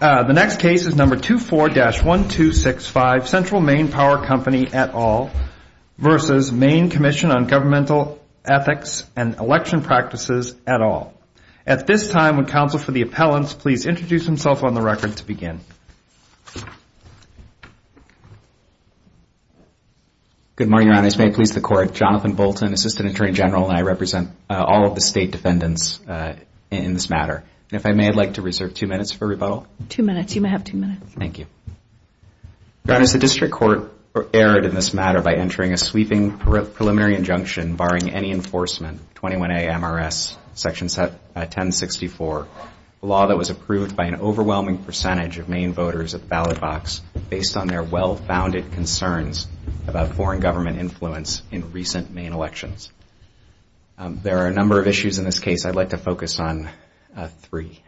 At this time, would counsel for the appellants please introduce themselves on the record to begin. Good morning, Your Honor. As may it please the Court, Jonathan Bolton, Assistant Attorney General, and I represent all of the state defendants in this matter. And if I may, I'd like to reserve two minutes for rebuttal. Your Honor, the District Court erred in this matter by entering a sweeping preliminary injunction barring any enforcement of 21A MRS Section 1064, a law that was approved by an overwhelming percentage of Maine voters at the ballot box based on their well-founded concerns about foreign government influence in recent Maine elections. There are a number of issues in this case. I'd like to focus on three.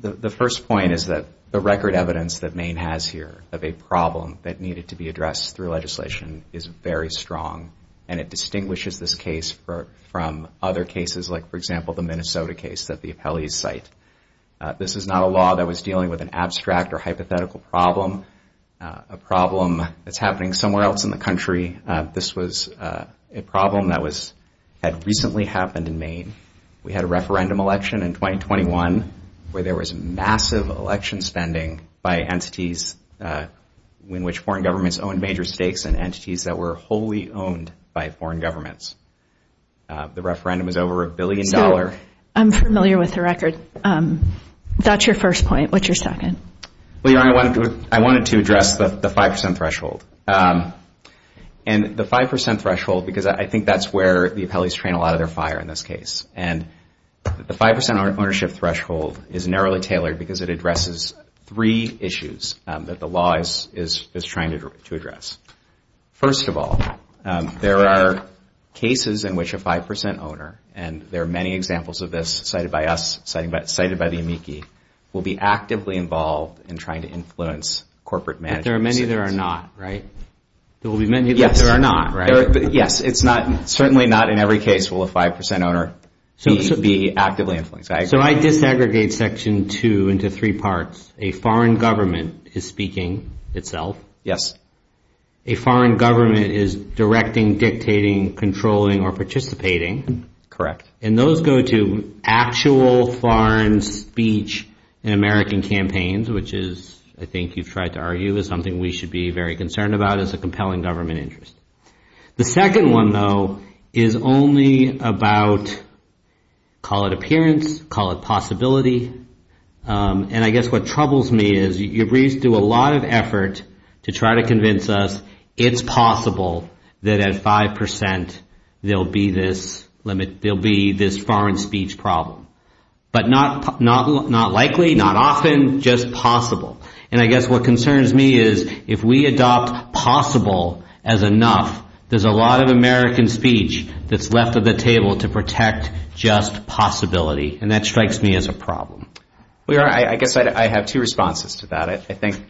The first point is that the record evidence that Maine has here of a problem that needed to be addressed through legislation is very strong. And it distinguishes this case from other cases like, for example, the Minnesota case that the appellees cite. This is not a law that was dealing with an abstract or hypothetical problem, a problem that's happening somewhere else in the country. This was a problem that had recently happened in Maine. We had a referendum election in 2021 where there was massive election spending by entities in which foreign governments owned major stakes and entities that were wholly owned by foreign governments. The referendum was over a billion dollars. I'm familiar with the record. That's your first point. What's your second? Well, Your Honor, I wanted to address the 5% threshold. And the 5% threshold, because I think that's where the appellees train a lot of their fire in this case. And the 5% ownership threshold is narrowly tailored because it addresses three issues that the law is trying to address. First of all, there are cases in which a 5% owner, and there are many examples of this cited by us, cited by the amici, will be actively involved in the process of addressing this problem. But there are many that are not, right? Yes, certainly not in every case will a 5% owner be actively influenced. So I disaggregate Section 2 into three parts. A foreign government is speaking itself. A foreign government is directing, dictating, controlling, or participating. Correct. And those go to actual foreign speech in American campaigns, which is, I think you've tried to argue, is something we should be very concerned about as a compelling government interest. The second one, though, is only about, call it appearance, call it possibility. And I guess what troubles me is your briefs do a lot of effort to try to convince us it's possible that at 5% there'll be this, you know, there'll be this foreign speech problem. But not likely, not often, just possible. And I guess what concerns me is if we adopt possible as enough, there's a lot of American speech that's left at the table to protect just possibility. And that strikes me as a problem. I guess I have two responses to that. I think,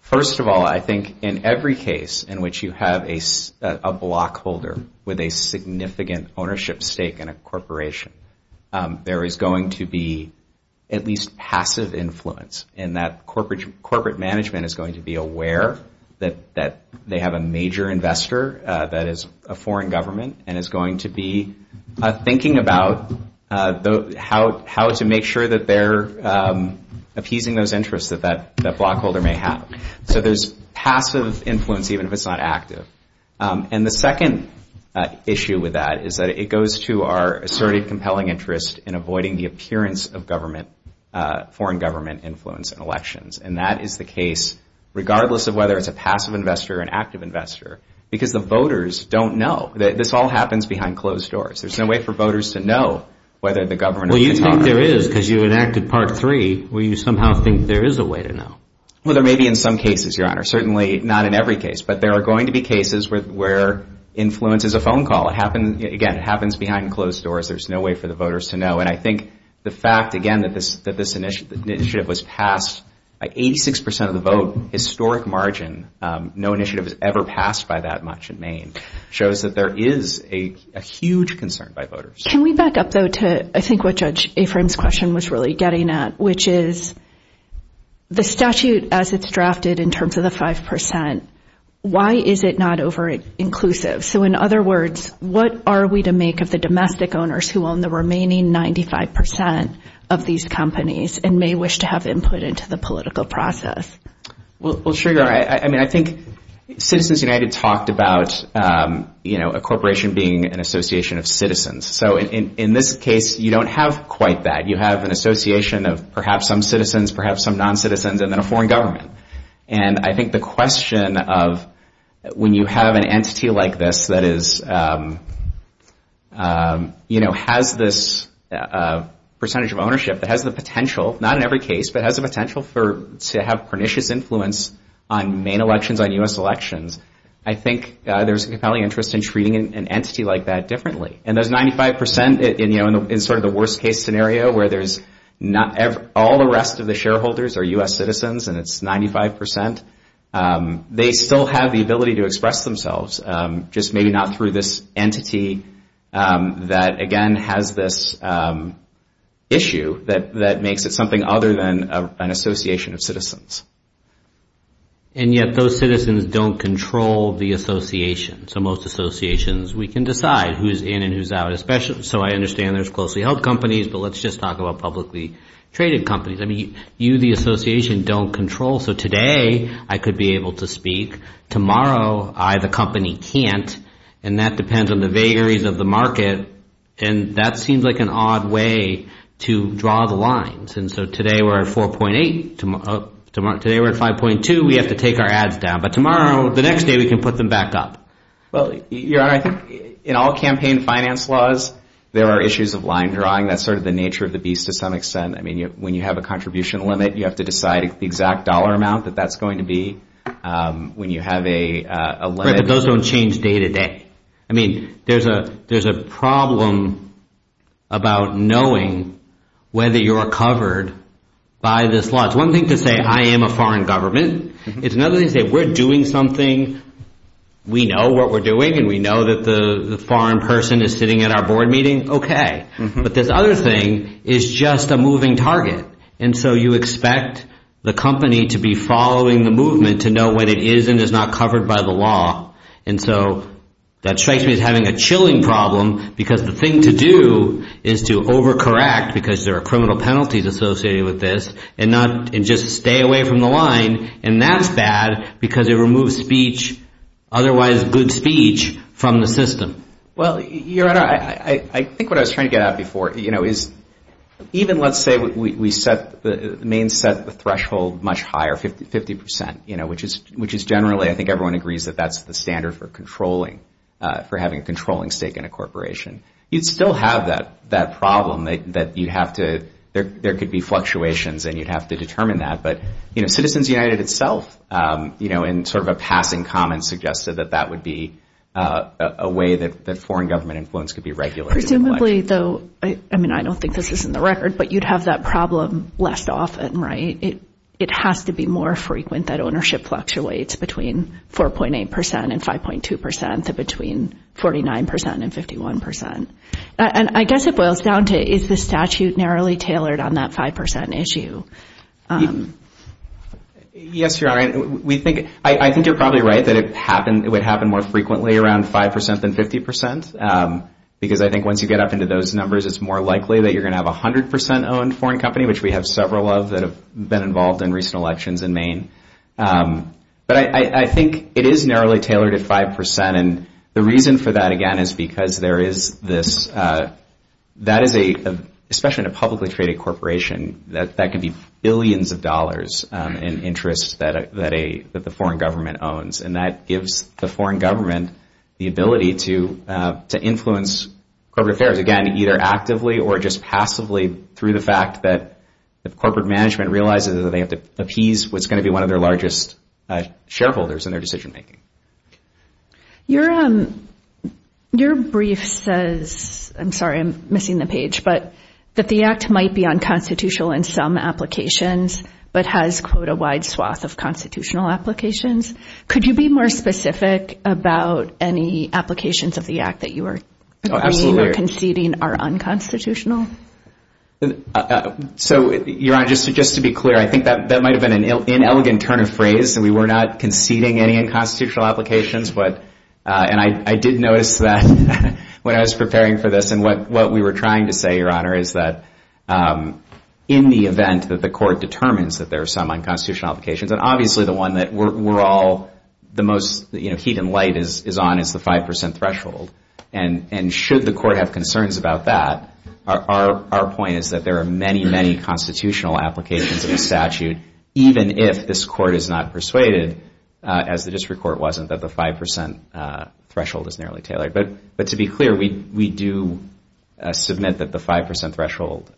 first of all, I think in every case in which you have a block holder with a significant ownership stake in a corporation, there is going to be at least passive influence in that corporate management is going to be aware that they have a major investor that is a foreign government and is going to be thinking about how to make sure that they're appeasing those interests, that that block holder is aware of that. So there's passive influence even if it's not active. And the second issue with that is that it goes to our asserted compelling interest in avoiding the appearance of government, foreign government influence in And that is the case regardless of whether it's a passive investor or an active investor, because the voters don't know. This all happens behind closed doors. There's no way for voters to know whether the government... Well, you think there is, because you enacted Part 3, where you somehow think there is a way to know. Well, there may be in some cases, Your Honor, certainly not in every case, but there are going to be cases where influence is a phone call. It happens, again, it happens behind closed doors. There's no way for the voters to know. And I think the fact, again, that this initiative was passed by 86% of the vote, historic margin, no initiative was ever passed by that much in Maine, shows that there is a huge concern by voters. Can we back up, though, to I think what Judge Afram's question was really getting at, which is the statute as it's drafted in terms of the 5%, why is it not over-inclusive? So in other words, what are we to make of the domestic owners who own the remaining 95% of these companies and may wish to have input into the political process? Well, sure, Your Honor. I mean, I think Citizens United talked about, you know, a corporation being an association of citizens. So in this case, you don't have quite that. You have an association of perhaps some citizens, perhaps some non-citizens, and then a foreign government. And I think the question of when you have an entity like this that is, you know, has this percentage of ownership that has the potential, not in every case, but has the potential to have pernicious influence on Maine elections, on U.S. elections, I think there's a compelling interest in treating an entity like that differently. And those 95%, you know, in sort of the worst-case scenario where there's not all the rest of the shareholders are U.S. citizens and it's 95%, they still have the ability to express themselves, just maybe not through this entity that, again, has this issue that makes it something other than an association of citizens. And yet those citizens don't control the association. So most associations, we can decide who's in and who's out. So I understand there's closely-held companies, but let's just talk about publicly-traded companies. I mean, you, the association, don't control. So today, I could be able to speak. Tomorrow, I, the company, can't, and that depends on the vagaries of the market. And that seems like an odd way to draw the lines. And so today we're at 4.8. Today we're at 5.2. We have to take our ads down. But tomorrow, the next day, we can put them back up. Well, Your Honor, I think in all campaign finance laws, there are issues of line drawing. That's sort of the nature of the beast to some extent. I mean, when you have a contribution limit, you have to decide the exact dollar amount that that's going to be. Right, but those don't change day-to-day. I mean, there's a problem about knowing whether you're covered by this law. It's one thing to say, I am a foreign government. It's another thing to say, we're doing something, we know what we're doing, and we know that the foreign person is sitting at our board meeting. Okay, but this other thing is just a moving target. And so you expect the company to be following the movement to know when it is and is not covered by the law. And so that strikes me as having a chilling problem, because the thing to do is to overcorrect, because there are criminal penalties associated with this, and just stay away from the line, and that's bad, because it removes speech, otherwise good speech, from the system. Well, Your Honor, I think what I was trying to get at before is even let's say we set the main threshold much higher, 50%, which is generally, I think everyone agrees that that's the standard for controlling, for having a controlling stake in a corporation, you'd still have that problem that you'd have to, there could be fluctuations and you'd have to determine that. But Citizens United itself, in sort of a passing comment, suggested that that would be a way that foreign government influence could be regulated. Presumably, though, I mean, I don't think this is in the record, but you'd have that problem less often, right? It has to be more frequent that ownership fluctuates between 4.8% and 5.2% to between 49% and 51%. And I guess it boils down to is the statute narrowly tailored on that 5% issue? Yes, Your Honor. I think you're probably right that it would happen more frequently around 5% than 50%. Because I think once you get up into those numbers, it's more likely that you're going to have a 100% owned foreign company, which we have several of that have been involved in recent elections in Maine. But I think it is narrowly tailored at 5%. And the reason for that, again, is because there is this, that is a, especially in a publicly traded corporation, that can be billions of dollars in interest that the foreign government owns. And that gives the foreign government the ability to influence corporate affairs, again, either actively or just passively through the fact that if corporate management realizes that they have to appease what's going to be one of their largest shareholders in their decision making. Your brief says, I'm sorry, I'm missing the page, but that the act might be unconstitutional in some applications, but has, quote, a wide swath of constitutional applications. Could you be more specific about any applications of the act that you are conceding are unconstitutional? So, Your Honor, just to be clear, I think that might have been an inelegant turn of phrase. We were not conceding any unconstitutional applications. And I did notice that when I was preparing for this. And what we were trying to say, Your Honor, is that in the event that the court determines that there are some unconstitutional applications, and obviously the one that we're all, the most heat and light is on is the 5% threshold. And should the court have concerns about that, our point is that there are many, many constitutional applications in the statute, even if this court is not persuaded, as the district court wasn't, that the 5% threshold is narrowly tailored. But to be clear, we do submit that the 5% threshold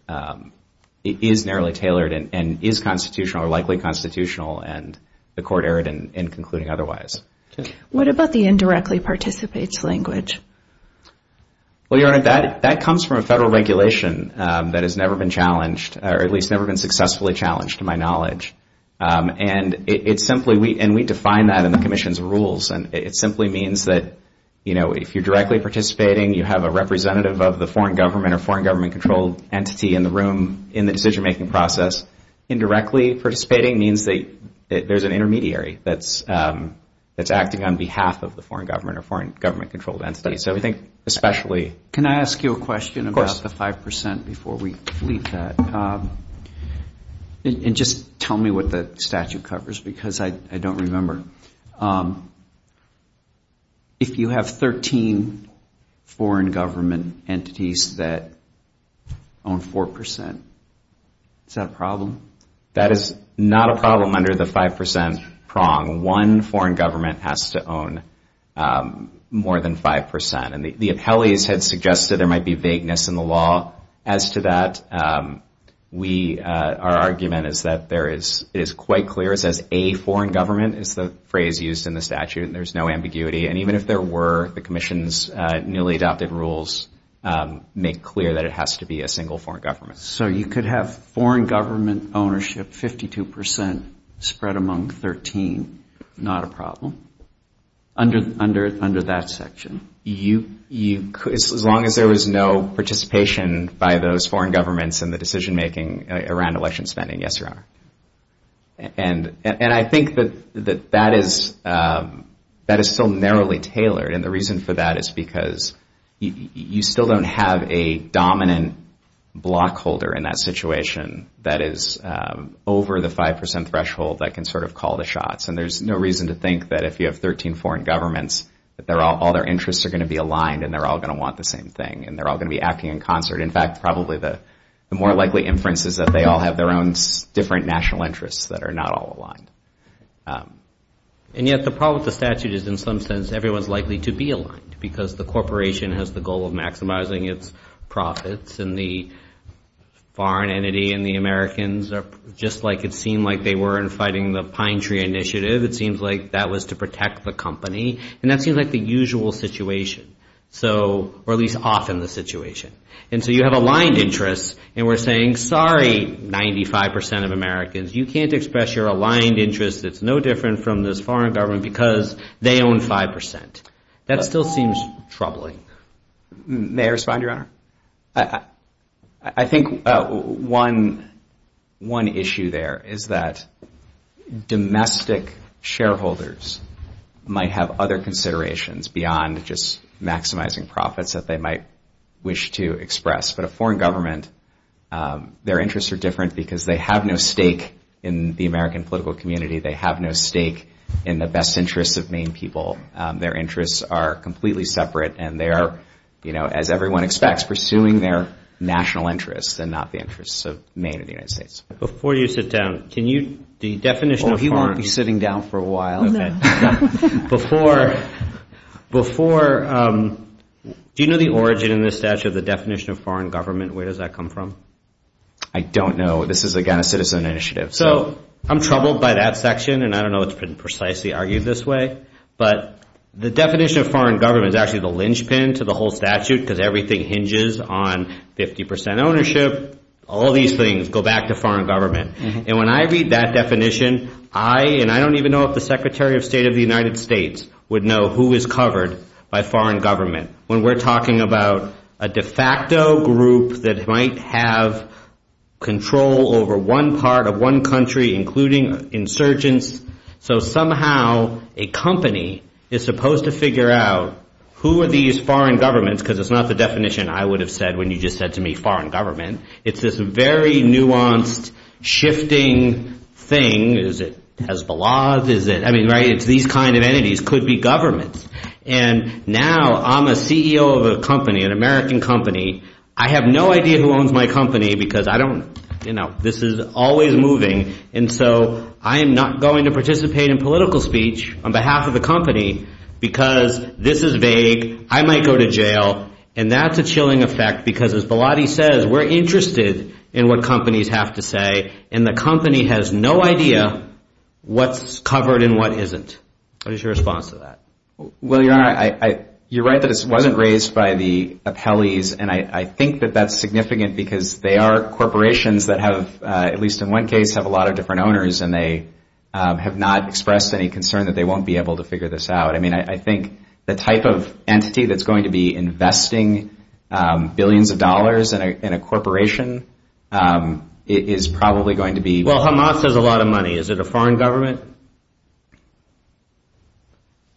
is narrowly tailored and is constitutional or likely constitutional, and the court erred in concluding otherwise. What about the indirectly participates language? Well, Your Honor, that comes from a federal regulation that has never been challenged, or at least never been successfully challenged, to my knowledge. And we define that in the Commission's rules. And it simply means that if you're directly participating, you have a representative of the foreign government or foreign government-controlled entity in the room in the decision-making process. Indirectly participating means that there's an intermediary that's acting on behalf of the foreign government or foreign government-controlled entity. Can I ask you a question about the 5% before we leave that? And just tell me what the statute covers, because I don't remember. If you have 13 foreign government entities that own 4%, is that a problem? That is not a problem under the 5% prong. One foreign government has to own more than 5%. And the appellees had suggested there might be vagueness in the law as to that. Our argument is that it is quite clear. It says a foreign government is the phrase used in the statute, and there's no ambiguity. And even if there were, the Commission's newly adopted rules make clear that it has to be a single foreign government. So you could have foreign government ownership 52% spread among 13. Not a problem. Under that section. As long as there was no participation by those foreign governments in the decision-making around election spending, yes, there are. And I think that that is still narrowly tailored, and the reason for that is because you still don't have a dominant block holder in that situation that is over the 5% threshold that can sort of call the shots. And there's no reason to think that if you have 13 foreign governments that all their interests are going to be aligned and they're all going to want the same thing and they're all going to be acting in concert. In fact, probably the more likely inference is that they all have their own different national interests that are not all aligned. And yet the problem with the statute is in some sense everyone's likely to be aligned, because the corporation has the goal of maximizing its profits, and the foreign entity and the Americans are just like it seemed like they were in fighting the pine tree initiative. It seems like that was to protect the company. And that seems like the usual situation, or at least often the situation. And so you have aligned interests, and we're saying, sorry, 95% of Americans, you can't express your aligned interests. It's no different from this foreign government, because they own 5%. That still seems troubling. May I respond, Your Honor? I think one issue there is that domestic shareholders might have other considerations beyond just maximizing profits that they might wish to express. But a foreign government, their interests are different because they have no stake in the American political community. They have no stake in the best interests of Maine people. Their interests are completely separate, and they are, as everyone expects, pursuing their national interests and not the interests of Maine or the United States. Before you sit down, can you, the definition of foreign... Oh, he won't be sitting down for a while. Before... Do you know the origin in this statute of the definition of foreign government? Where does that come from? I don't know. This is, again, a citizen initiative. So I'm troubled by that section, and I don't know if it's been precisely argued this way. But the definition of foreign government is actually the linchpin to the whole statute, because everything hinges on 50% ownership. All these things go back to foreign government. And when I read that definition, I, and I don't even know if the Secretary of State of the United States, would know who is covered by foreign government when we're talking about a de facto group that might have control over one part of one country, including insurgents. So somehow a company is supposed to figure out who are these foreign governments, because it's not the definition I would have said when you just said to me foreign government. It's this very nuanced, shifting thing. Is it Hezbollah? Is it... I mean, right, it's these kind of entities could be governments. And now I'm a CEO of a company, an American company. I have no idea who owns my company, because I don't, you know, this is always moving. And so I am not going to participate in political speech on behalf of the company, because this is vague. I might go to jail. And that's a chilling effect, because as Baladi says, we're interested in what companies have to say. And the company has no idea what's covered and what isn't. What is your response to that? Well, you're right. You're right that this wasn't raised by the appellees. And I think that that's significant, because they are corporations that have, at least in one case, have a lot of different owners, and they have not expressed any concern that they won't be able to figure this out. I mean, I think the type of entity that's going to be investing billions of dollars in a corporation is probably going to be... Well, Hamas has a lot of money. Is it a foreign government?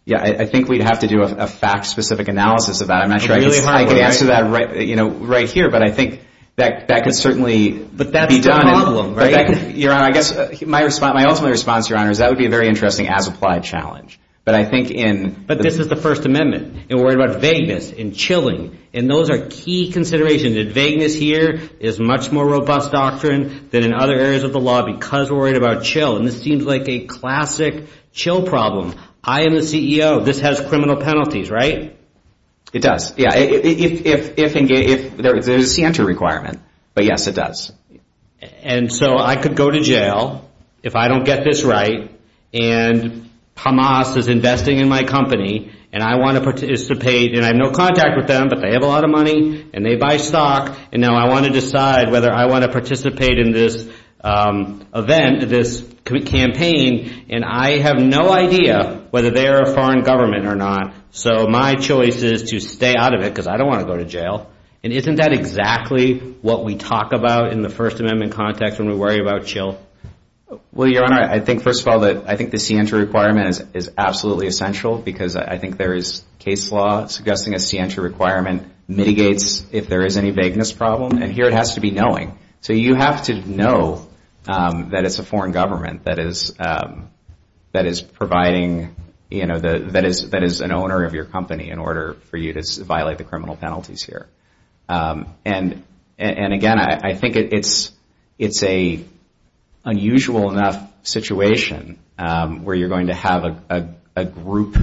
Yeah, I think we'd have to do a fact-specific analysis of that. I'm not sure I could answer that right here, but I think that could certainly be done. But that's the problem, right? Your Honor, I guess my ultimate response, Your Honor, is that would be a very interesting as-applied challenge. But I think in... But this is the First Amendment, and we're worried about vagueness and chilling, and those are key considerations. Vagueness here is a much more robust doctrine than in other areas of the law, because we're worried about chill. And this seems like a classic chill problem. I am the CEO. This has criminal penalties, right? It does. Yeah, if... There's a Santa requirement, but yes, it does. And so I could go to jail if I don't get this right, and Hamas is investing in my company, and I want to participate, and I have no contact with them, but they have a lot of money, and they buy stock. And now I want to decide whether I want to participate in this event, this campaign, and I have no idea whether they are a foreign government or not. So my choice is to stay out of it, because I don't want to go to jail. And isn't that exactly what we talk about in the First Amendment context when we worry about chill? Well, Your Honor, I think, first of all, that I think the Santa requirement is absolutely essential, because I think there is case law suggesting a Santa requirement mitigates if there is any vagueness problem, and here it has to be knowing. So you have to know that it's a foreign government that is providing, you know, that is an owner of your company in order for you to violate the criminal penalties here. And again, I think it's an unusual enough situation where you're going to have a group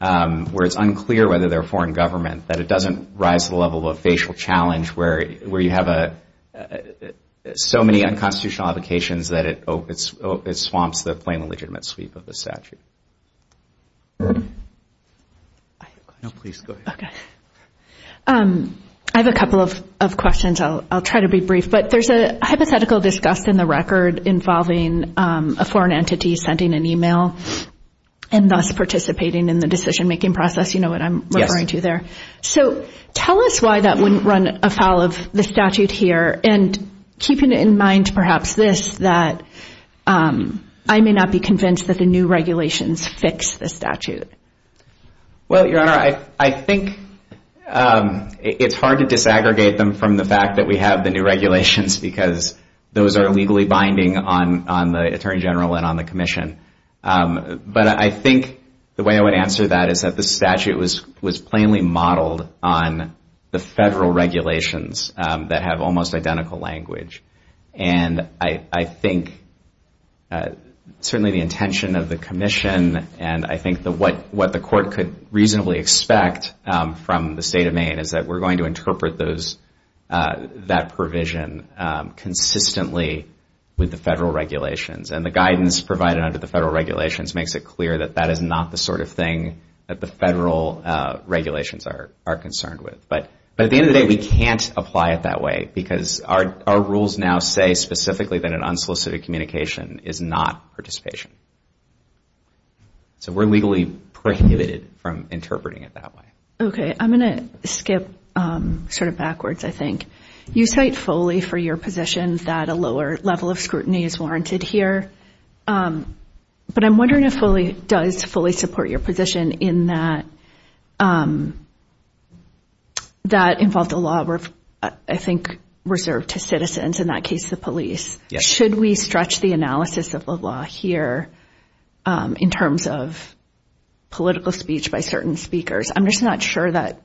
where it's unclear whether they're a foreign government, that it doesn't rise to the level of a facial challenge, where you have so many unconstitutional applications that it swamps the plain legitimate sweep of the statute. I have a couple of questions. I'll try to be brief, but there's a hypothetical discussed in the record involving a foreign entity sending an e-mail and thus participating in the decision-making process. You know what I'm referring to there. So tell us why that wouldn't run afoul of the statute here, and keeping in mind perhaps this, that I may not be convinced that the new regulations fix the statute. Well, Your Honor, I think it's hard to disaggregate them from the fact that we have the new regulations because those are legally binding on the Attorney General and on the Commission. But I think the way I would answer that is that the statute was plainly modeled on the federal regulations that have almost identical language, and I think certainly the intention of the Commission and I think what the Court could reasonably expect from the State of Maine is that we're going to interpret that provision consistently with the federal regulations, and the guidance provided under the federal regulations makes it clear that that is not the sort of thing that the federal regulations are concerned with. But at the end of the day, we can't apply it that way because our rules now say specifically that an unsolicited communication is not participation. So we're legally prohibited from interpreting it that way. Okay. I'm going to skip sort of backwards, I think. You cite Foley for your position that a lower level of scrutiny is warranted here, but I'm wondering if Foley does fully support your position in that that involved a law, I think, reserved to citizens, in that case the police. Should we stretch the analysis of the law here in terms of political speech by certain speakers? I'm just not sure that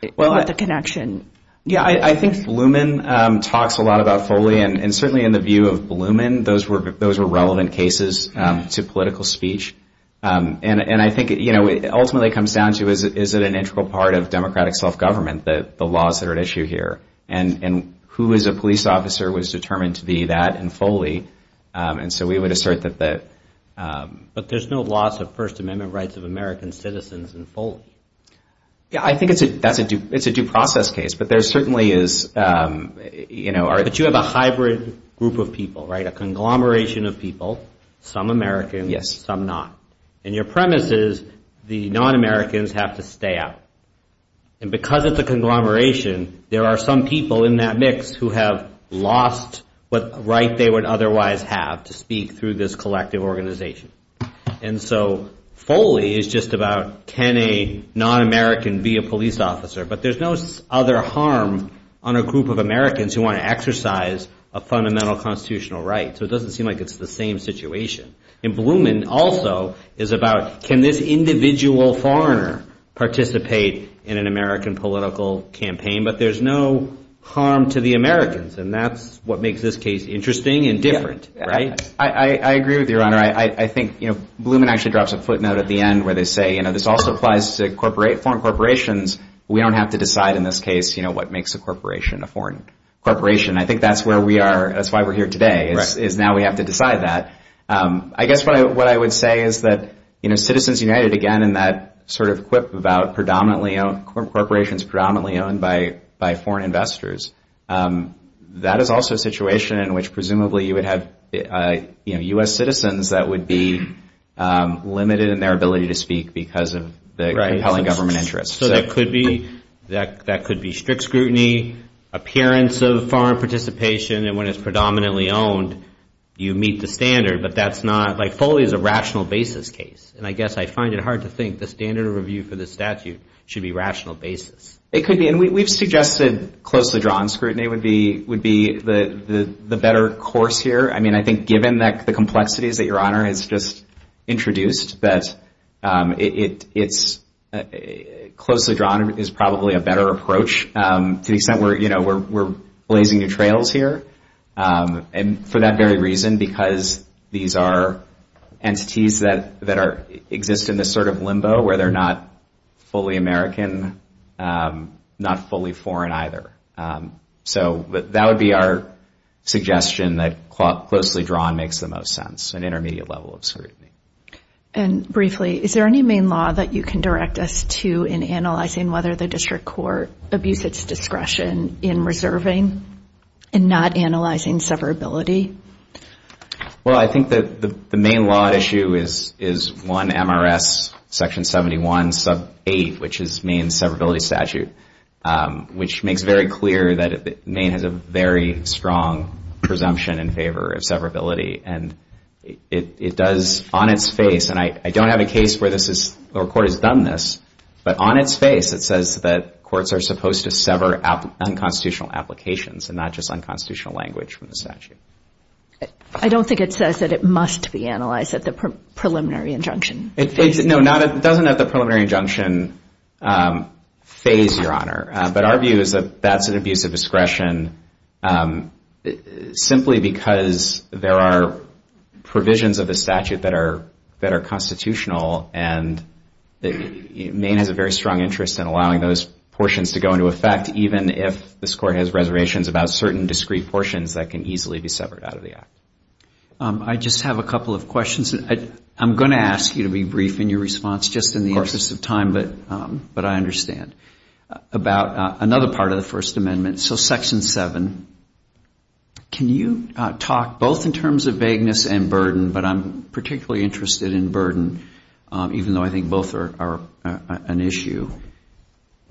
the connection. Yeah, I think Blumen talks a lot about Foley, and certainly in the view of Blumen, those were relevant cases to political speech. And I think, you know, it ultimately comes down to is it an integral part of democratic self-government, the laws that are at issue here. And who is a police officer was determined to be that in Foley, and so we would assert that the... But there's no loss of First Amendment rights of American citizens in Foley. Yeah, I think it's a due process case, but there certainly is, you know... But you have a hybrid group of people, right, a conglomeration of people, some American, some not. And your premise is the non-Americans have to stay out. And because it's a conglomeration, there are some people in that mix who have lost what right they would otherwise have to speak through this collective organization. And so Foley is just about, can a non-American be a police officer? But there's no other harm on a group of Americans who want to exercise a fundamental constitutional right. So it doesn't seem like it's the same situation. And Blumen also is about, can this individual foreigner participate in an American political campaign? But there's no harm to the Americans, and that's what makes this case interesting and different, right? I agree with you, Your Honor. I think, you know, Blumen actually drops a footnote at the end where they say, you know, this also applies to foreign corporations. We don't have to decide in this case, you know, what makes a corporation a foreign corporation. I think that's where we are. That's why we're here today, is now we have to decide that. I guess what I would say is that, you know, Citizens United, again, in that sort of quip about predominantly owned corporations, predominantly owned by foreign investors, that is also a situation in which presumably you would have, you know, U.S. citizens that would be limited in their ability to speak because of the compelling government interests. So that could be strict scrutiny, appearance of foreign participation, and when it's predominantly owned, you meet the standard. But that's not, like, Foley is a rational basis case. And I guess I find it hard to think the standard of review for this statute should be rational basis. It could be. And we've suggested closely drawn scrutiny would be the better course here. I mean, I think given the complexities that Your Honor has just introduced that it's closely drawn is probably a better approach to the extent where, you know, we're blazing new trails here. And for that very reason, because these are entities that exist in this sort of limbo where they're not fully American, not fully foreign either. So that would be our suggestion that closely drawn makes the most sense, an intermediate level of scrutiny. And briefly, is there any main law that you can direct us to in analyzing whether the district court abused its discretion in reserving and not analyzing severability? Well, I think that the main law issue is 1 MRS section 71 sub 8, which is Maine's severability statute, which makes very clear that Maine has a very strong presumption in favor of severability. And it does on its face, and I don't have a case where this is, or a court has done this, but on its face it says that courts are supposed to sever unconstitutional applications and not just unconstitutional language from the statute. I don't think it says that it must be analyzed at the preliminary injunction. No, it doesn't at the preliminary injunction phase, Your Honor. But our view is that that's an abuse of discretion simply because there are provisions of the statute that are constitutional, and Maine has a very strong interest in allowing those portions to go into effect even if this court has reservations about certain discrete portions that can easily be severed out of the act. I just have a couple of questions. I'm going to ask you to be brief in your response just in the interest of time, but I understand, about another part of the First Amendment. So section 7, can you talk both in terms of vagueness and burden, but I'm particularly interested in burden, even though I think both are an issue.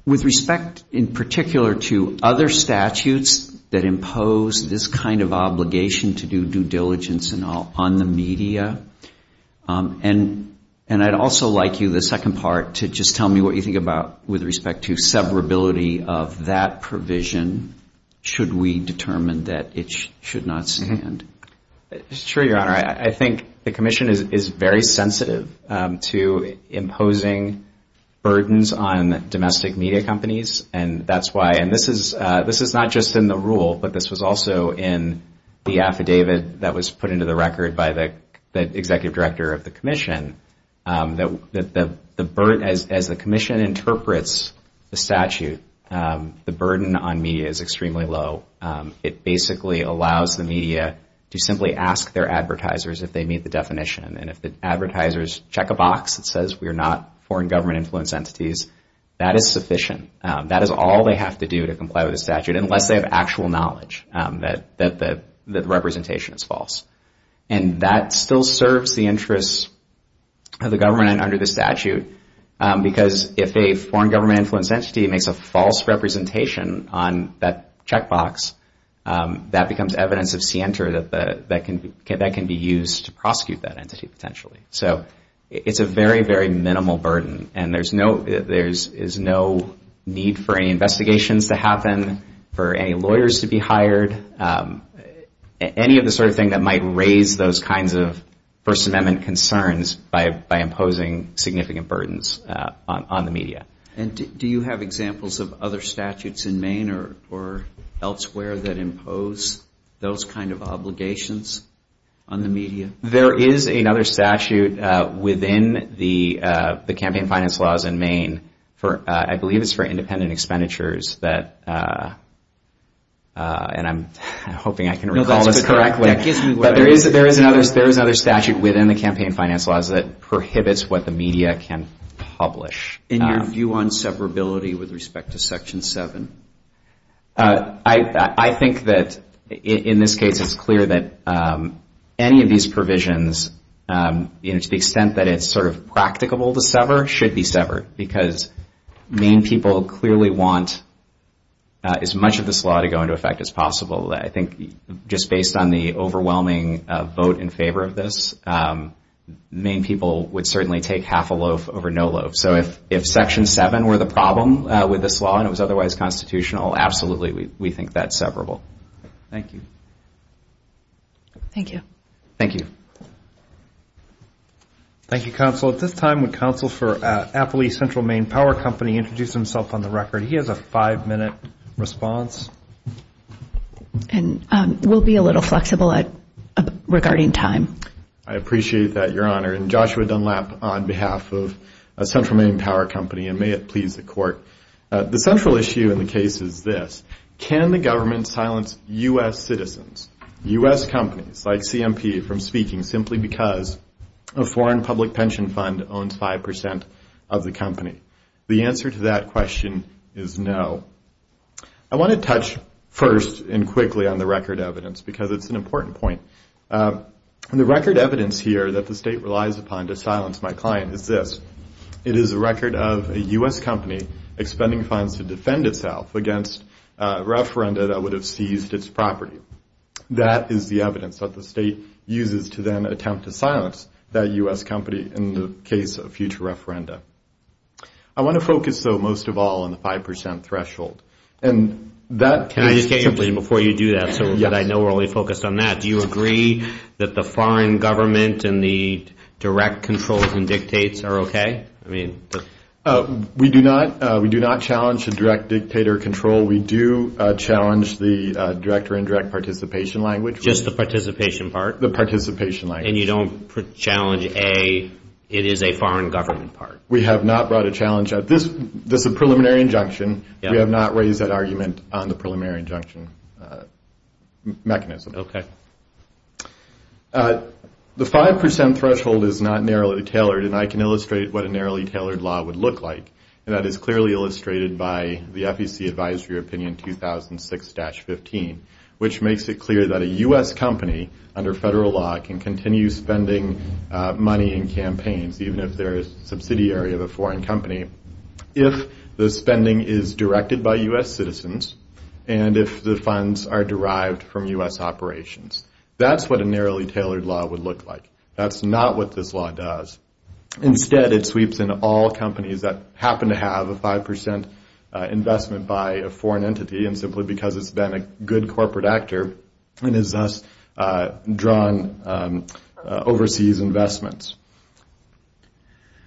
With respect in particular to other statutes that impose this kind of obligation to do due diligence on the media, and I'd also like you, the second part, to just tell me what you think about with respect to severability of that provision, should we determine that it should not stand. Sure, Your Honor. I think the commission is very sensitive to imposing burdens on domestic media companies, and that's why, and this is not just in the rule, but this was also in the affidavit that was put into the record by the executive director of the commission, that as the commission interprets the statute, the burden on media is extremely low. It basically allows the media to simply ask their advertisers if they meet the definition, and if the advertisers check a box that says we are not foreign government influence entities, that is sufficient. That is all they have to do to comply with the statute, unless they have actual knowledge that the representation is false. And that still serves the interests of the government under the statute, because if a foreign government influence entity makes a false representation on that check box, that becomes evidence of scienter that can be used to prosecute that entity potentially. So it's a very, very minimal burden, and there is no need for any investigations to happen, for any lawyers to be hired, any of the sort of thing that might raise those kinds of First Amendment concerns by imposing significant burdens on the media. And do you have examples of other statutes in Maine or elsewhere that impose those kind of obligations on the media? There is another statute within the campaign finance laws in Maine, I believe it's for independent expenditures, and I'm hoping I can recall this correctly. There is another statute within the campaign finance laws that prohibits what the media can publish. In your view on severability with respect to Section 7? I think that in this case it's clear that any of these provisions, to the extent that it's sort of practicable to sever, should be severed, because Maine people clearly want as much of this law to go into effect as possible. I think just based on the overwhelming vote in favor of this, Maine people would certainly take half a loaf over no loaf. So if Section 7 were the problem with this law and it was otherwise constitutional, absolutely, we think that's severable. Thank you. Thank you. Thank you. Thank you, Counsel. Counsel, at this time would Counsel for Appley Central Maine Power Company introduce himself on the record? He has a five-minute response. And we'll be a little flexible regarding time. I appreciate that, Your Honor. And Joshua Dunlap on behalf of Central Maine Power Company, and may it please the Court. The central issue in the case is this. Can the government silence U.S. citizens, U.S. companies like CMP, from speaking simply because a foreign public pension fund owns 5% of the company? The answer to that question is no. I want to touch first and quickly on the record evidence because it's an important point. And the record evidence here that the state relies upon to silence my client is this. It is a record of a U.S. company expending funds to defend itself against a referenda that would have seized its property. That is the evidence that the state uses to then attempt to silence that U.S. company in the case of future referenda. I want to focus, though, most of all on the 5% threshold. And that is simply before you do that so that I know we're only focused on that. Do you agree that the foreign government and the direct controls and dictates are okay? We do not challenge the direct dictator control. We do challenge the director and direct participation language. Just the participation part? The participation language. And you don't challenge, A, it is a foreign government part? We have not brought a challenge. This is a preliminary injunction. We have not raised that argument on the preliminary injunction mechanism. Okay. The 5% threshold is not narrowly tailored, and I can illustrate what a narrowly tailored law would look like. And that is clearly illustrated by the FEC Advisory Opinion 2006-15, which makes it clear that a U.S. company under federal law can continue spending money in campaigns, even if they're a subsidiary of a foreign company, if the spending is directed by U.S. citizens and if the funds are derived from U.S. operations. That's what a narrowly tailored law would look like. That's not what this law does. Instead, it sweeps in all companies that happen to have a 5% investment by a foreign entity, and simply because it's been a good corporate actor, it has thus drawn overseas investments.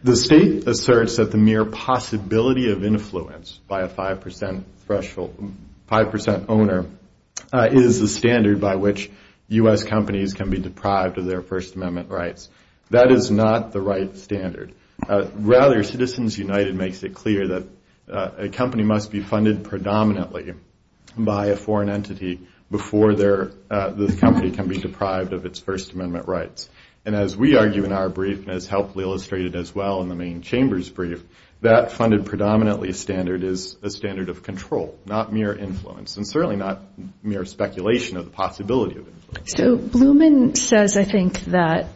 The state asserts that the mere possibility of influence by a 5% threshold, 5% owner, is the standard by which U.S. companies can be deprived of their First Amendment rights. That is not the right standard. Rather, Citizens United makes it clear that a company must be funded predominantly by a foreign entity before the company can be deprived of its First Amendment rights. And as we argue in our brief, and as helpfully illustrated as well in the main chamber's brief, that funded predominantly standard is a standard of control, not mere influence, and certainly not mere speculation of the possibility of influence. So Blumen says, I think, that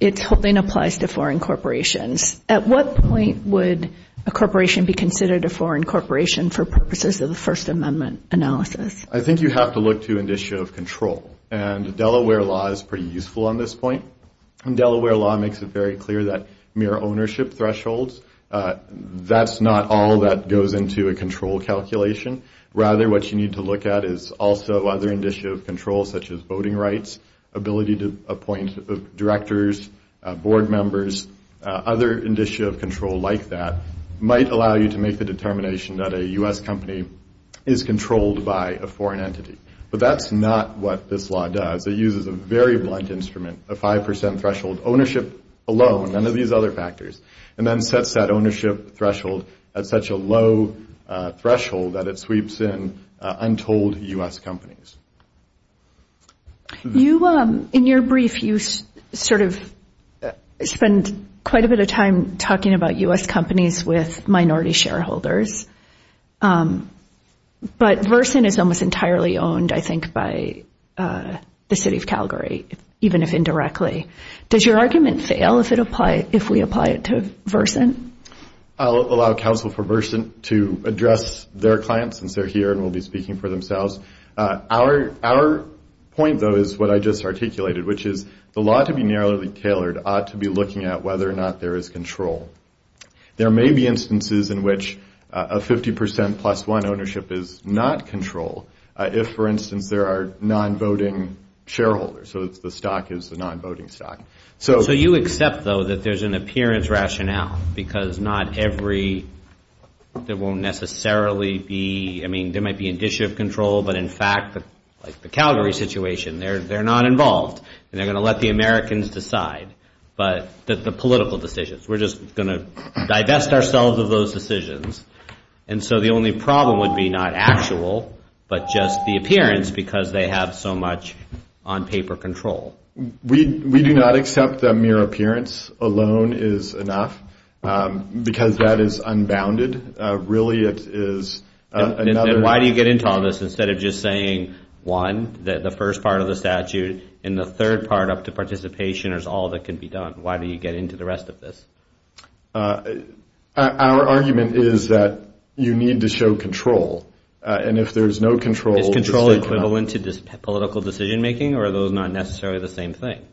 its holding applies to foreign corporations. At what point would a corporation be considered a foreign corporation for purposes of the First Amendment analysis? I think you have to look to an issue of control, and Delaware law is pretty useful on this point. Delaware law makes it very clear that mere ownership thresholds, that's not all that goes into a control calculation. Rather, what you need to look at is also other indicia of control, such as voting rights, ability to appoint directors, board members, other indicia of control like that, might allow you to make the determination that a U.S. company is controlled by a foreign entity. But that's not what this law does. It uses a very blunt instrument, a 5% threshold, ownership alone, none of these other factors, and then sets that ownership threshold at such a low threshold that it sweeps in untold U.S. companies. In your brief, you sort of spend quite a bit of time talking about U.S. companies with minority shareholders, but Verson is almost entirely owned, I think, by the city of Calgary, even if indirectly. Does your argument fail if we apply it to Verson? I'll allow counsel for Verson to address their clients since they're here and will be speaking for themselves. Our point, though, is what I just articulated, which is the law to be narrowly tailored ought to be looking at whether or not there is control. There may be instances in which a 50% plus one ownership is not control if, for instance, there are non-voting shareholders, so the stock is a non-voting stock. So you accept, though, that there's an appearance rationale because not every – there won't necessarily be – I mean, there might be initiative control, but in fact, like the Calgary situation, they're not involved, and they're going to let the Americans decide, but the political decisions. We're just going to divest ourselves of those decisions. And so the only problem would be not actual but just the appearance because they have so much on paper control. We do not accept that mere appearance alone is enough because that is unbounded. Really, it is another – Then why do you get into all this instead of just saying one, the first part of the statute, and the third part up to participation is all that can be done? Why do you get into the rest of this? Our argument is that you need to show control, and if there's no control, Is control equivalent to political decision-making, or are those not necessarily the same thing?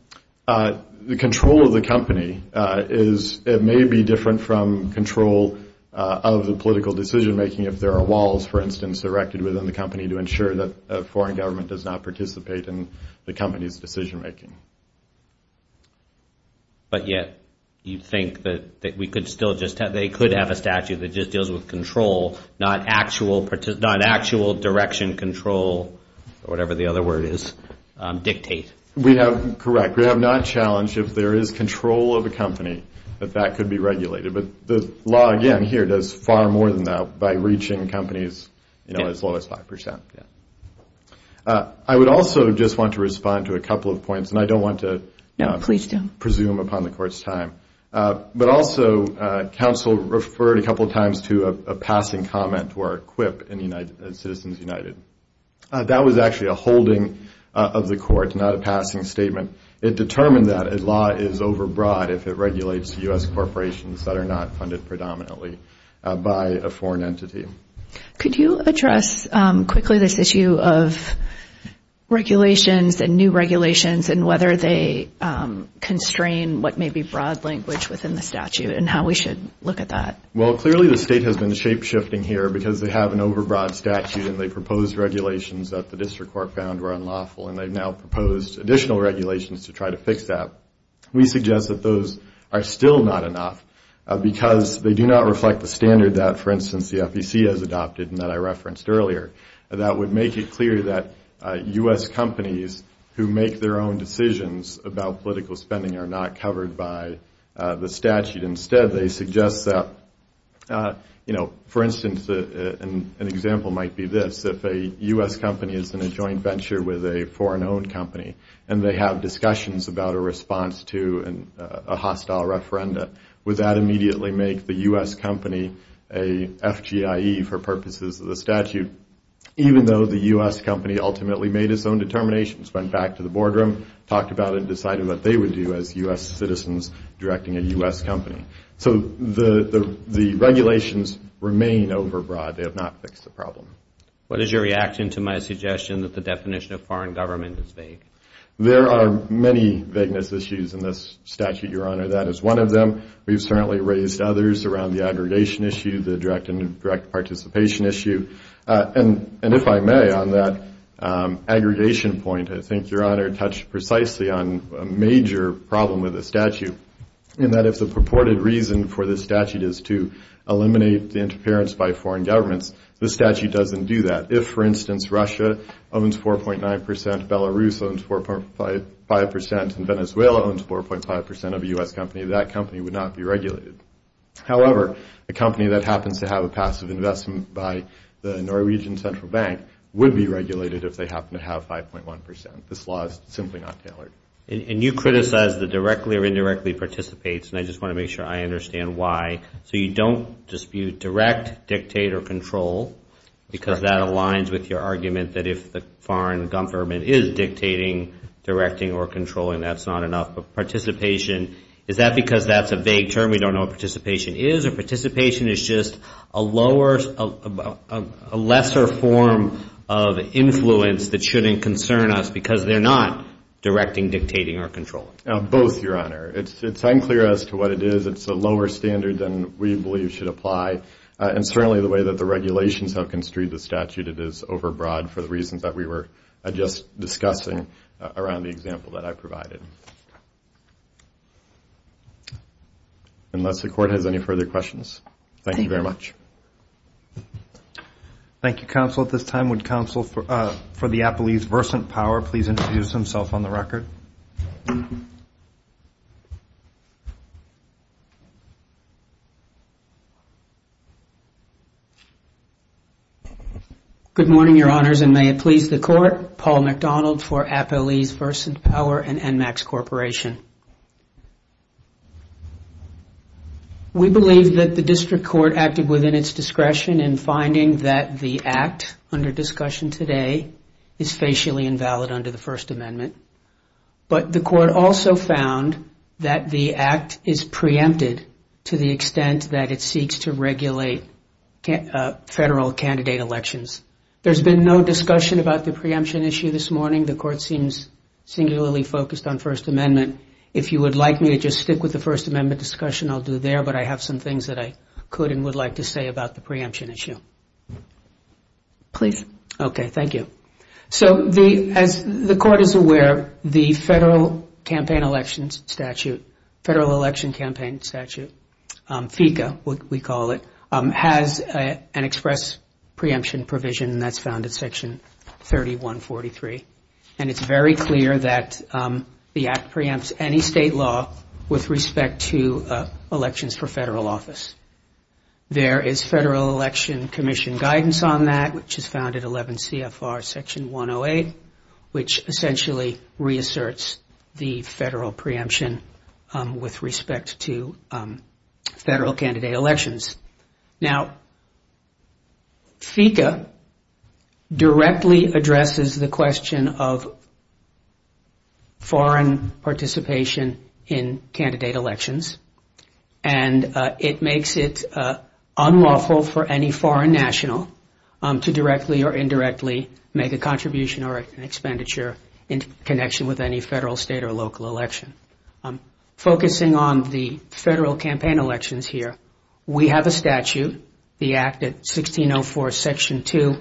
The control of the company is – it may be different from control of the political decision-making if there are walls, for instance, erected within the company to ensure that a foreign government does not participate in the company's decision-making. But yet you think that we could still just – they could have a statute that just deals with control, not actual direction control, or whatever the other word is, dictate. We have – correct. We have not challenged if there is control of a company that that could be regulated. But the law, again, here does far more than that by reaching companies as low as 5 percent. I would also just want to respond to a couple of points, and I don't want to presume upon the court's time. But also, counsel referred a couple of times to a passing comment or a quip in Citizens United. That was actually a holding of the court, not a passing statement. It determined that a law is overbroad if it regulates U.S. corporations that are not funded predominantly by a foreign entity. Could you address quickly this issue of regulations and new regulations and whether they constrain what may be broad language within the statute and how we should look at that? Well, clearly the state has been shape-shifting here because they have an overbroad statute and they proposed regulations that the district court found were unlawful, and they've now proposed additional regulations to try to fix that. We suggest that those are still not enough because they do not reflect the standard that, for instance, the FEC has adopted and that I referenced earlier. That would make it clear that U.S. companies who make their own decisions about political spending are not covered by the statute. Instead, they suggest that, you know, for instance, an example might be this. If a U.S. company is in a joint venture with a foreign-owned company and they have discussions about a response to a hostile referenda, would that immediately make the U.S. company a FGIE for purposes of the statute? Even though the U.S. company ultimately made its own determinations, went back to the boardroom, talked about it, and decided what they would do as U.S. citizens directing a U.S. company. So the regulations remain overbroad. They have not fixed the problem. What is your reaction to my suggestion that the definition of foreign government is vague? There are many vagueness issues in this statute, Your Honor. That is one of them. We've certainly raised others around the aggregation issue, the direct participation issue. And if I may, on that aggregation point, I think Your Honor touched precisely on a major problem with the statute in that if the purported reason for the statute is to eliminate the interference by foreign governments, the statute doesn't do that. If, for instance, Russia owns 4.9 percent, Belarus owns 4.5 percent, and Venezuela owns 4.5 percent of a U.S. company, that company would not be regulated. However, a company that happens to have a passive investment by the Norwegian Central Bank would be regulated if they happen to have 5.1 percent. This law is simply not tailored. And you criticize the directly or indirectly participates, and I just want to make sure I understand why. So you don't dispute direct, dictate, or control because that aligns with your argument that if the foreign government is dictating, directing, or controlling, that's not enough. But participation, is that because that's a vague term, we don't know what participation is, or participation is just a lesser form of influence that shouldn't concern us because they're not directing, dictating, or controlling? Both, Your Honor. It's unclear as to what it is. It's a lower standard than we believe should apply. And certainly the way that the regulations have construed the statute, it is overbroad for the reasons that we were just discussing around the example that I provided. Unless the Court has any further questions. Thank you very much. Thank you, Counsel. At this time, would Counsel for the Appellee's Versant Power please introduce himself on the record? Good morning, Your Honors, and may it please the Court. Paul MacDonald for Appellee's Versant Power and Enmax Corporation. We believe that the District Court acted within its discretion in finding that the Act, under discussion today, is facially invalid under the First Amendment. But the Court also found that the Act is preempted to the extent that it seeks to regulate federal candidate elections. There's been no discussion about the preemption issue this morning. The Court seems singularly focused on First Amendment. If you would like me to just stick with the First Amendment discussion, I'll do there, but I have some things that I could and would like to say about the preemption issue. Please. Okay, thank you. So, as the Court is aware, the federal campaign elections statute, Federal Election Campaign Statute, FECA, we call it, has an express preemption provision that's found in Section 3143. And it's very clear that the Act preempts any state law with respect to elections for federal office. There is Federal Election Commission guidance on that, which is found at 11 CFR Section 108, which essentially reasserts the federal preemption with respect to federal candidate elections. Now, FECA directly addresses the question of foreign participation in candidate elections. And it makes it unlawful for any foreign national to directly or indirectly make a contribution or an expenditure in connection with any federal, state, or local election. Focusing on the federal campaign elections here, we have a statute, the Act at 1604 Section 2.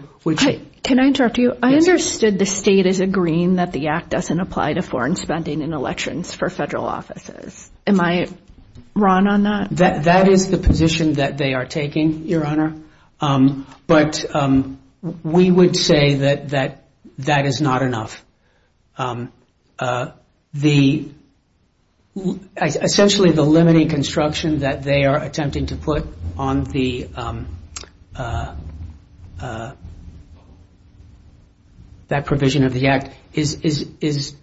Can I interrupt you? I understood the state is agreeing that the Act doesn't apply to foreign spending in elections for federal offices. Am I wrong on that? That is the position that they are taking, Your Honor. But we would say that that is not enough. Essentially, the limiting construction that they are attempting to put on that provision of the Act is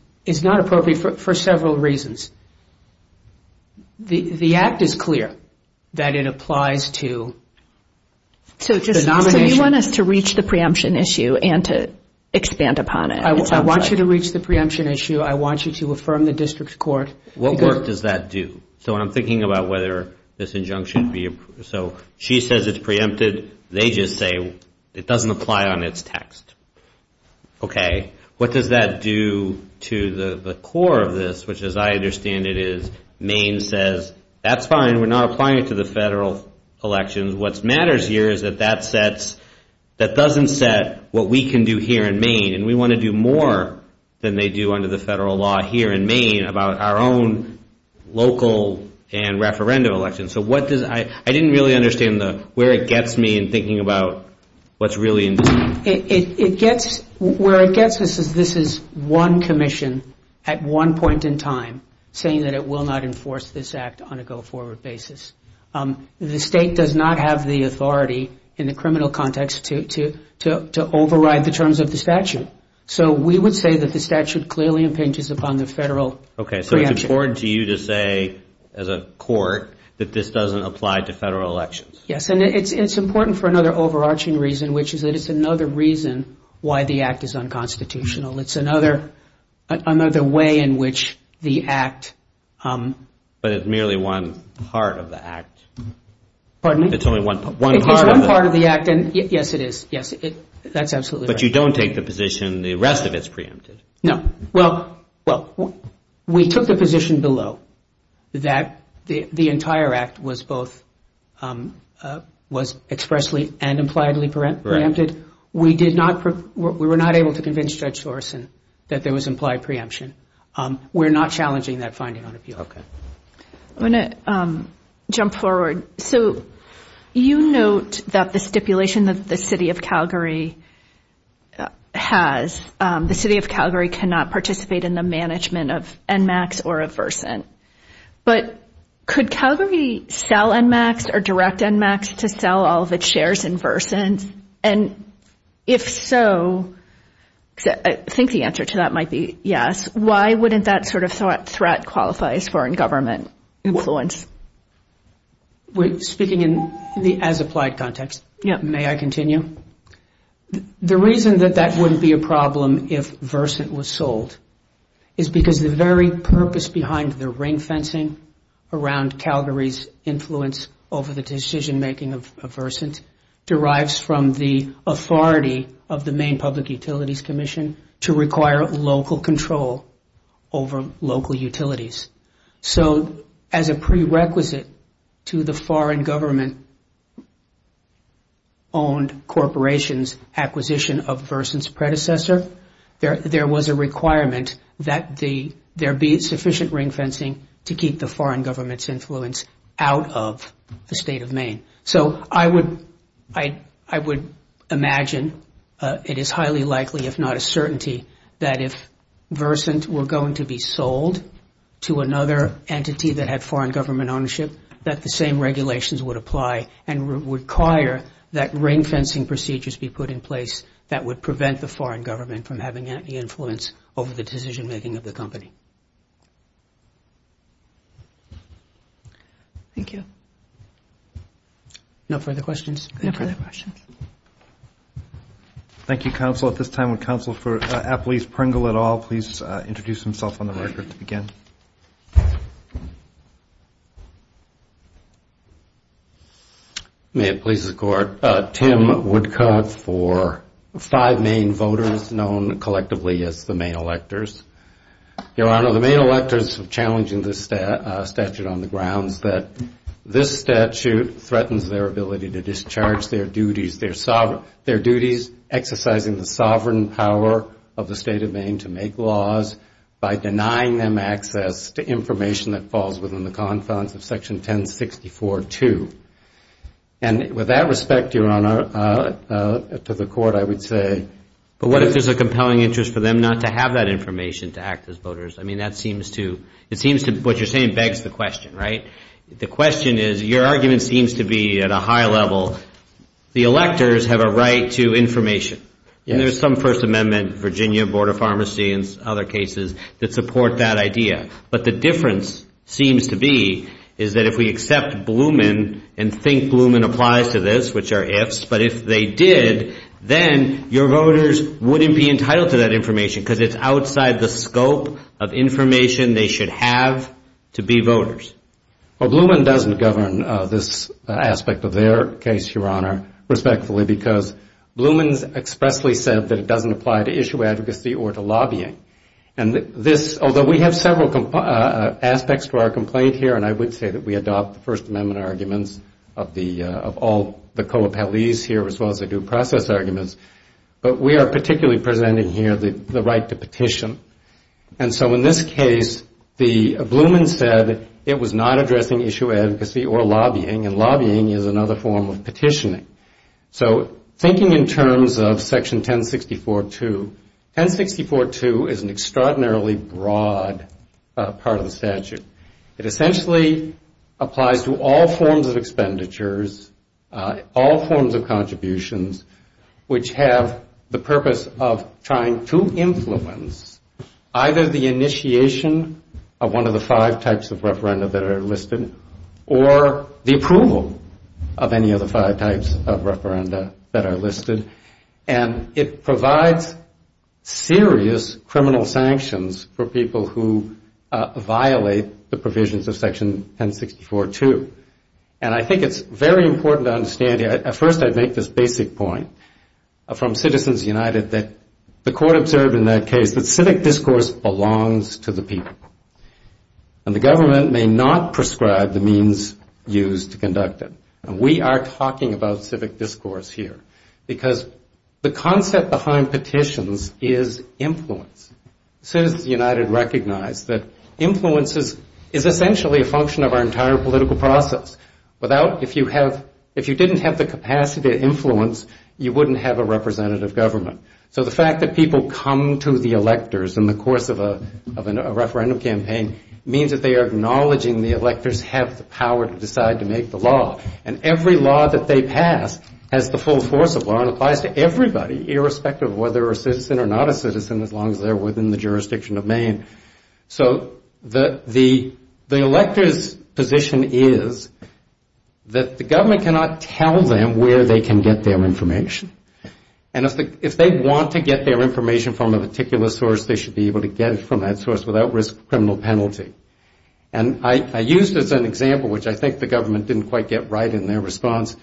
not appropriate for several reasons. The Act is clear that it applies to the nomination. So you want us to reach the preemption issue and to expand upon it. I want you to reach the preemption issue. I want you to affirm the district court. What work does that do? So when I'm thinking about whether this injunction be approved, so she says it's preempted. They just say it doesn't apply on its text. Okay. What does that do to the core of this, which as I understand it is Maine says that's fine. We're not applying it to the federal elections. What matters here is that that doesn't set what we can do here in Maine, and we want to do more than they do under the federal law here in Maine about our own local and referendum elections. I didn't really understand where it gets me in thinking about what's really important. Where it gets us is this is one commission at one point in time saying that it will not enforce this Act on a go-forward basis. The state does not have the authority in the criminal context to override the terms of the statute. So we would say that the statute clearly impinges upon the federal preemption. Okay. So it's important to you to say as a court that this doesn't apply to federal elections. Yes, and it's important for another overarching reason, which is that it's another reason why the Act is unconstitutional. It's another way in which the Act. But it's merely one part of the Act. Pardon me? It's only one part of the Act. It is one part of the Act. Yes, it is. Yes, that's absolutely right. But you don't take the position the rest of it is preempted. No. Well, we took the position below that the entire Act was both expressly and impliedly preempted. We were not able to convince Judge Thorsen that there was implied preemption. We're not challenging that finding on appeal. I'm going to jump forward. So you note that the stipulation that the city of Calgary has, the city of Calgary cannot participate in the management of Enmax or of Versant. But could Calgary sell Enmax or direct Enmax to sell all of its shares in Versant? And if so, I think the answer to that might be yes, why wouldn't that sort of threat qualify as foreign government influence? Speaking in the as-applied context, may I continue? The reason that that wouldn't be a problem if Versant was sold is because the very purpose behind the ring-fencing around Calgary's influence over the decision-making of Versant derives from the authority of the Maine Public Utilities Commission to require local control over local utilities. So as a prerequisite to the foreign government-owned corporation's acquisition of Versant's predecessor, there was a requirement that there be sufficient ring-fencing to keep the foreign government's influence out of the state of Maine. So I would imagine it is highly likely, if not a certainty, that if Versant were going to be sold to another entity that had foreign government ownership, that the same regulations would apply and require that ring-fencing procedures be put in place that would prevent the foreign government from having any influence over the decision-making of the company. Thank you. No further questions? No further questions. Thank you, Counsel. At this time, would Counsel for Appalachian Pringle et al. please introduce himself on the record to begin? May it please the Court. Tim Woodcock for five Maine voters known collectively as the Maine electors. Your Honor, the Maine electors challenging this statute on the grounds that this statute threatens their ability to discharge their duties exercising the sovereign power of the state of Maine to make laws by denying them access to information that falls within the confines of Section 1064.2. And with that respect, Your Honor, to the Court, I would say... But what if there's a compelling interest for them not to have that information to act as voters? I mean, that seems to... It seems to... What you're saying begs the question, right? The question is... Your argument seems to be at a high level. The electors have a right to information. And there's some First Amendment, Virginia, Board of Pharmacy, and other cases that support that idea. But the difference seems to be is that if we accept Blumen and think Blumen applies to this, which are ifs, but if they did, then your voters wouldn't be entitled to that information because it's outside the scope of information they should have to be voters. Well, Blumen doesn't govern this aspect of their case, Your Honor, respectfully, because Blumen expressly said that it doesn't apply to issue advocacy or to lobbying. And this, although we have several aspects to our complaint here, and I would say that we adopt the First Amendment arguments of all the co-appellees here as well as the due process arguments, but we are particularly presenting here the right to petition. And so in this case, Blumen said it was not addressing issue advocacy or lobbying, and lobbying is another form of petitioning. So thinking in terms of Section 1064.2, 1064.2 is an extraordinarily broad part of the statute. It essentially applies to all forms of expenditures, all forms of contributions, which have the purpose of trying to influence either the initiation of one of the five types of referenda that are listed or the approval of any of the five types of referenda that are listed. And it provides serious criminal sanctions for people who violate the provisions of Section 1064.2. And I think it's very important to understand, at first I'd make this basic point from Citizens United, that the court observed in that case that civic discourse belongs to the people. And the government may not prescribe the means used to conduct it. And we are talking about civic discourse here, because the concept behind petitions is influence. Citizens United recognize that influence is essentially a function of our entire political process. Without, if you have, if you didn't have the capacity to influence, you wouldn't have a representative government. So the fact that people come to the electors in the course of a referendum campaign means that they are acknowledging the electors have the power to decide to make the law, and every law that they pass has the full force of law and applies to everybody, irrespective of whether a citizen or not a citizen, as long as they're within the jurisdiction of Maine. So the electors' position is that the government cannot tell them where they can get their information. And if they want to get their information from a particular source, they should be able to get it from that source without risk of criminal penalty. And I used as an example, which I think the government didn't quite get right in their response,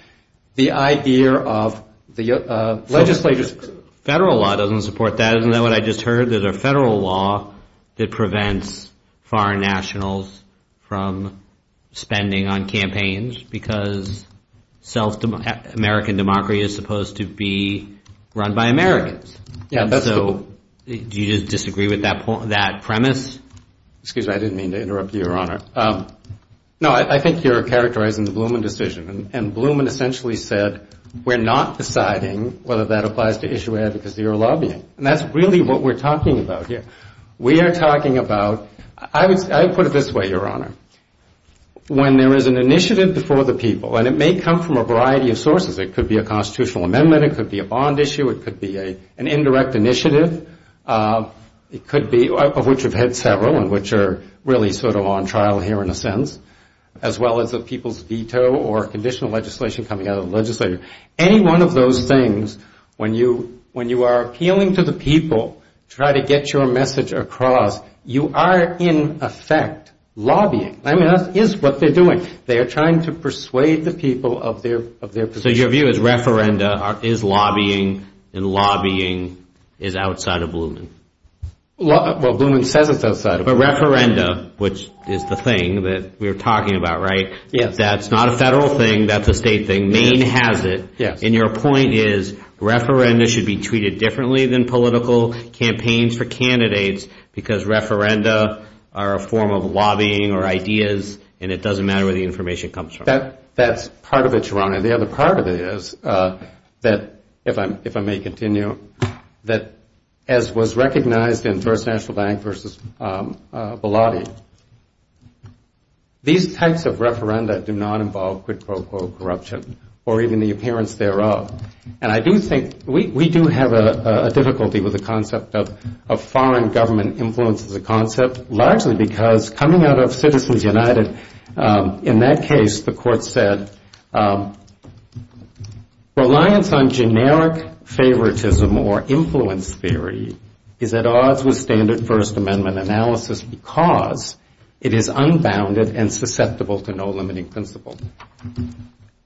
the idea of the legislature's... Federal law doesn't support that. Isn't that what I just heard? There's a federal law that prevents foreign nationals from spending on campaigns, because self-American democracy is supposed to be run by Americans. And so do you disagree with that premise? Excuse me, I didn't mean to interrupt you, Your Honor. No, I think you're characterizing the Blumen decision, and Blumen essentially said, we're not deciding whether that applies to issue advocacy or lobbying. And that's really what we're talking about here. We are talking about, I would put it this way, Your Honor. When there is an initiative before the people, and it may come from a variety of sources, it could be a constitutional amendment, it could be a bond issue, it could be an indirect initiative, it could be, of which we've had several and which are really sort of on trial here in a sense, as well as the people's veto or conditional legislation coming out of the legislature. Any one of those things, when you are appealing to the people, try to get your message across, you are in effect lobbying. I mean, that is what they're doing. They are trying to persuade the people of their position. So your view is referenda is lobbying and lobbying is outside of Blumen? Well, Blumen says it's outside of Blumen. But referenda, which is the thing that we were talking about, right? That's not a federal thing, that's a state thing. Maine has it. And your point is referenda should be treated differently than political campaigns for candidates because referenda are a form of lobbying or ideas and it doesn't matter where the information comes from. That's part of it, Your Honor. The other part of it is that, if I may continue, that as was recognized in First National Bank versus Bilotti, these types of referenda do not involve quid pro quo corruption or even the appearance thereof. And I do think we do have a difficulty with the concept of foreign government influence as a concept, largely because coming out of Citizens United, in that case the court said reliance on generic favoritism or influence theory is at odds with standard First Amendment analysis because it is unbounded and susceptible to no limiting principle.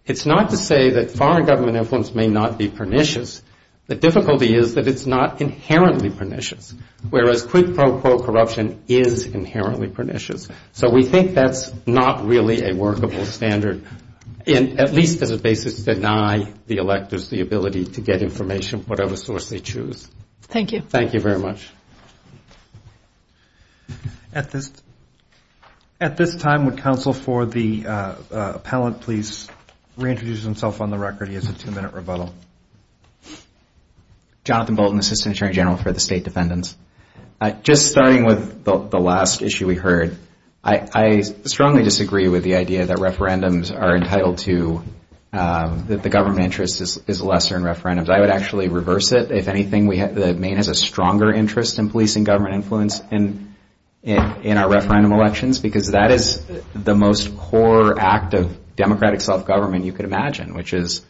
It's not to say that foreign government influence may not be pernicious. The difficulty is that it's not inherently pernicious, whereas quid pro quo corruption is inherently pernicious. So we think that's not really a workable standard, at least as a basis to deny the electors the ability to get information, whatever source they choose. Thank you very much. Jonathan Bolton, Assistant Attorney General for the State Defendants. Just starting with the last issue we heard, I strongly disagree with the idea that referendums are entitled to, that the government interest is lesser in referendums. I would actually reverse it. If anything, the Maine has a stronger interest in policing government influence in our referendum elections, because that is the most core act of democratic self-government you could imagine, which is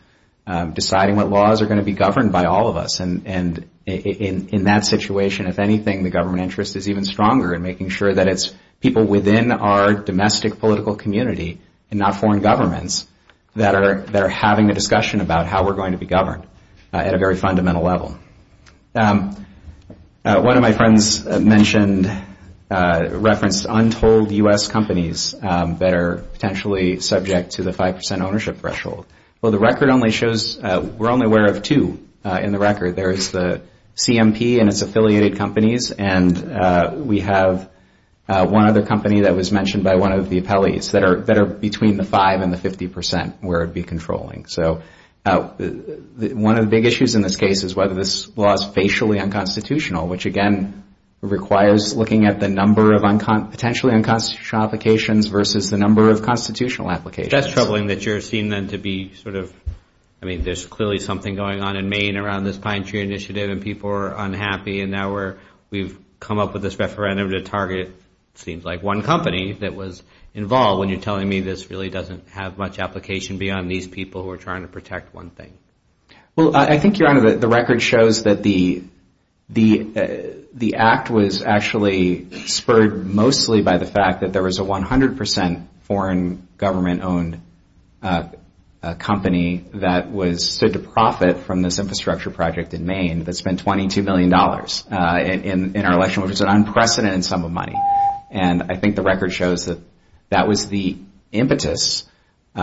deciding what laws are going to be governed. And in that situation, if anything, the government interest is even stronger in making sure that it's people within our domestic political community and not foreign governments that are having a discussion about how we're going to be governed at a very fundamental level. One of my friends referenced untold U.S. companies that are potentially subject to the 5% ownership threshold. Well, the record only shows, we're only aware of two in the record. There is the CMP and its affiliated companies, and we have one other company that was mentioned by one of the appellees that are between the 5% and the 50% where it would be controlling. So one of the big issues in this case is whether this law is facially unconstitutional, which again requires looking at the number of potentially unconstitutional applications versus the number of constitutional applications. And I think that's troubling that you're seeing them to be sort of, I mean, there's clearly something going on in Maine around this pine tree initiative and people are unhappy, and now we've come up with this referendum to target, it seems like, one company that was involved when you're telling me this really doesn't have much application beyond these people who are trying to protect one thing. Well, I think, Your Honor, the record shows that the act was actually spurred mostly by the fact that there was a 100% foreign government-owned company in Maine. A company that was stood to profit from this infrastructure project in Maine that spent $22 million in our election, which was an unprecedented sum of money. And I think the record shows that that was the impetus, but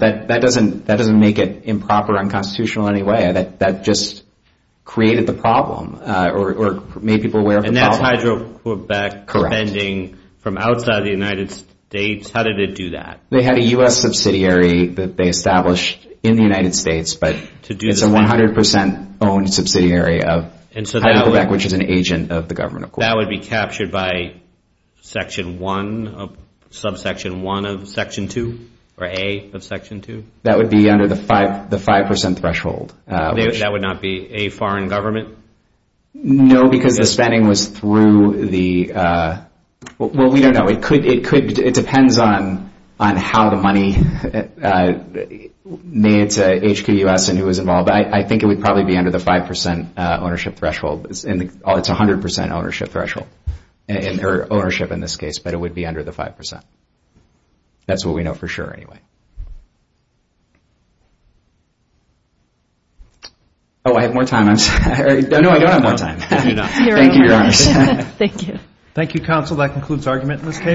that doesn't make it improper, unconstitutional in any way. That just created the problem or made people aware of the problem. And that's Hydro-Quebec defending from outside the United States? How did it do that? They had a U.S. subsidiary that they established in the United States, but it's a 100% owned subsidiary of Hydro-Quebec, which is an agent of the government, of course. That would be captured by Section 1, Subsection 1 of Section 2, or A of Section 2? That would be under the 5% threshold. That would not be a foreign government? No, because the spending was through the... Well, we don't know. It depends on how the money made to HQUS and who was involved. I think it would probably be under the 5% ownership threshold. It's a 100% ownership threshold, or ownership in this case, but it would be under the 5%. That's what we know for sure, anyway. Oh, I have more time. No, I don't have more time. Thank you, Your Honor.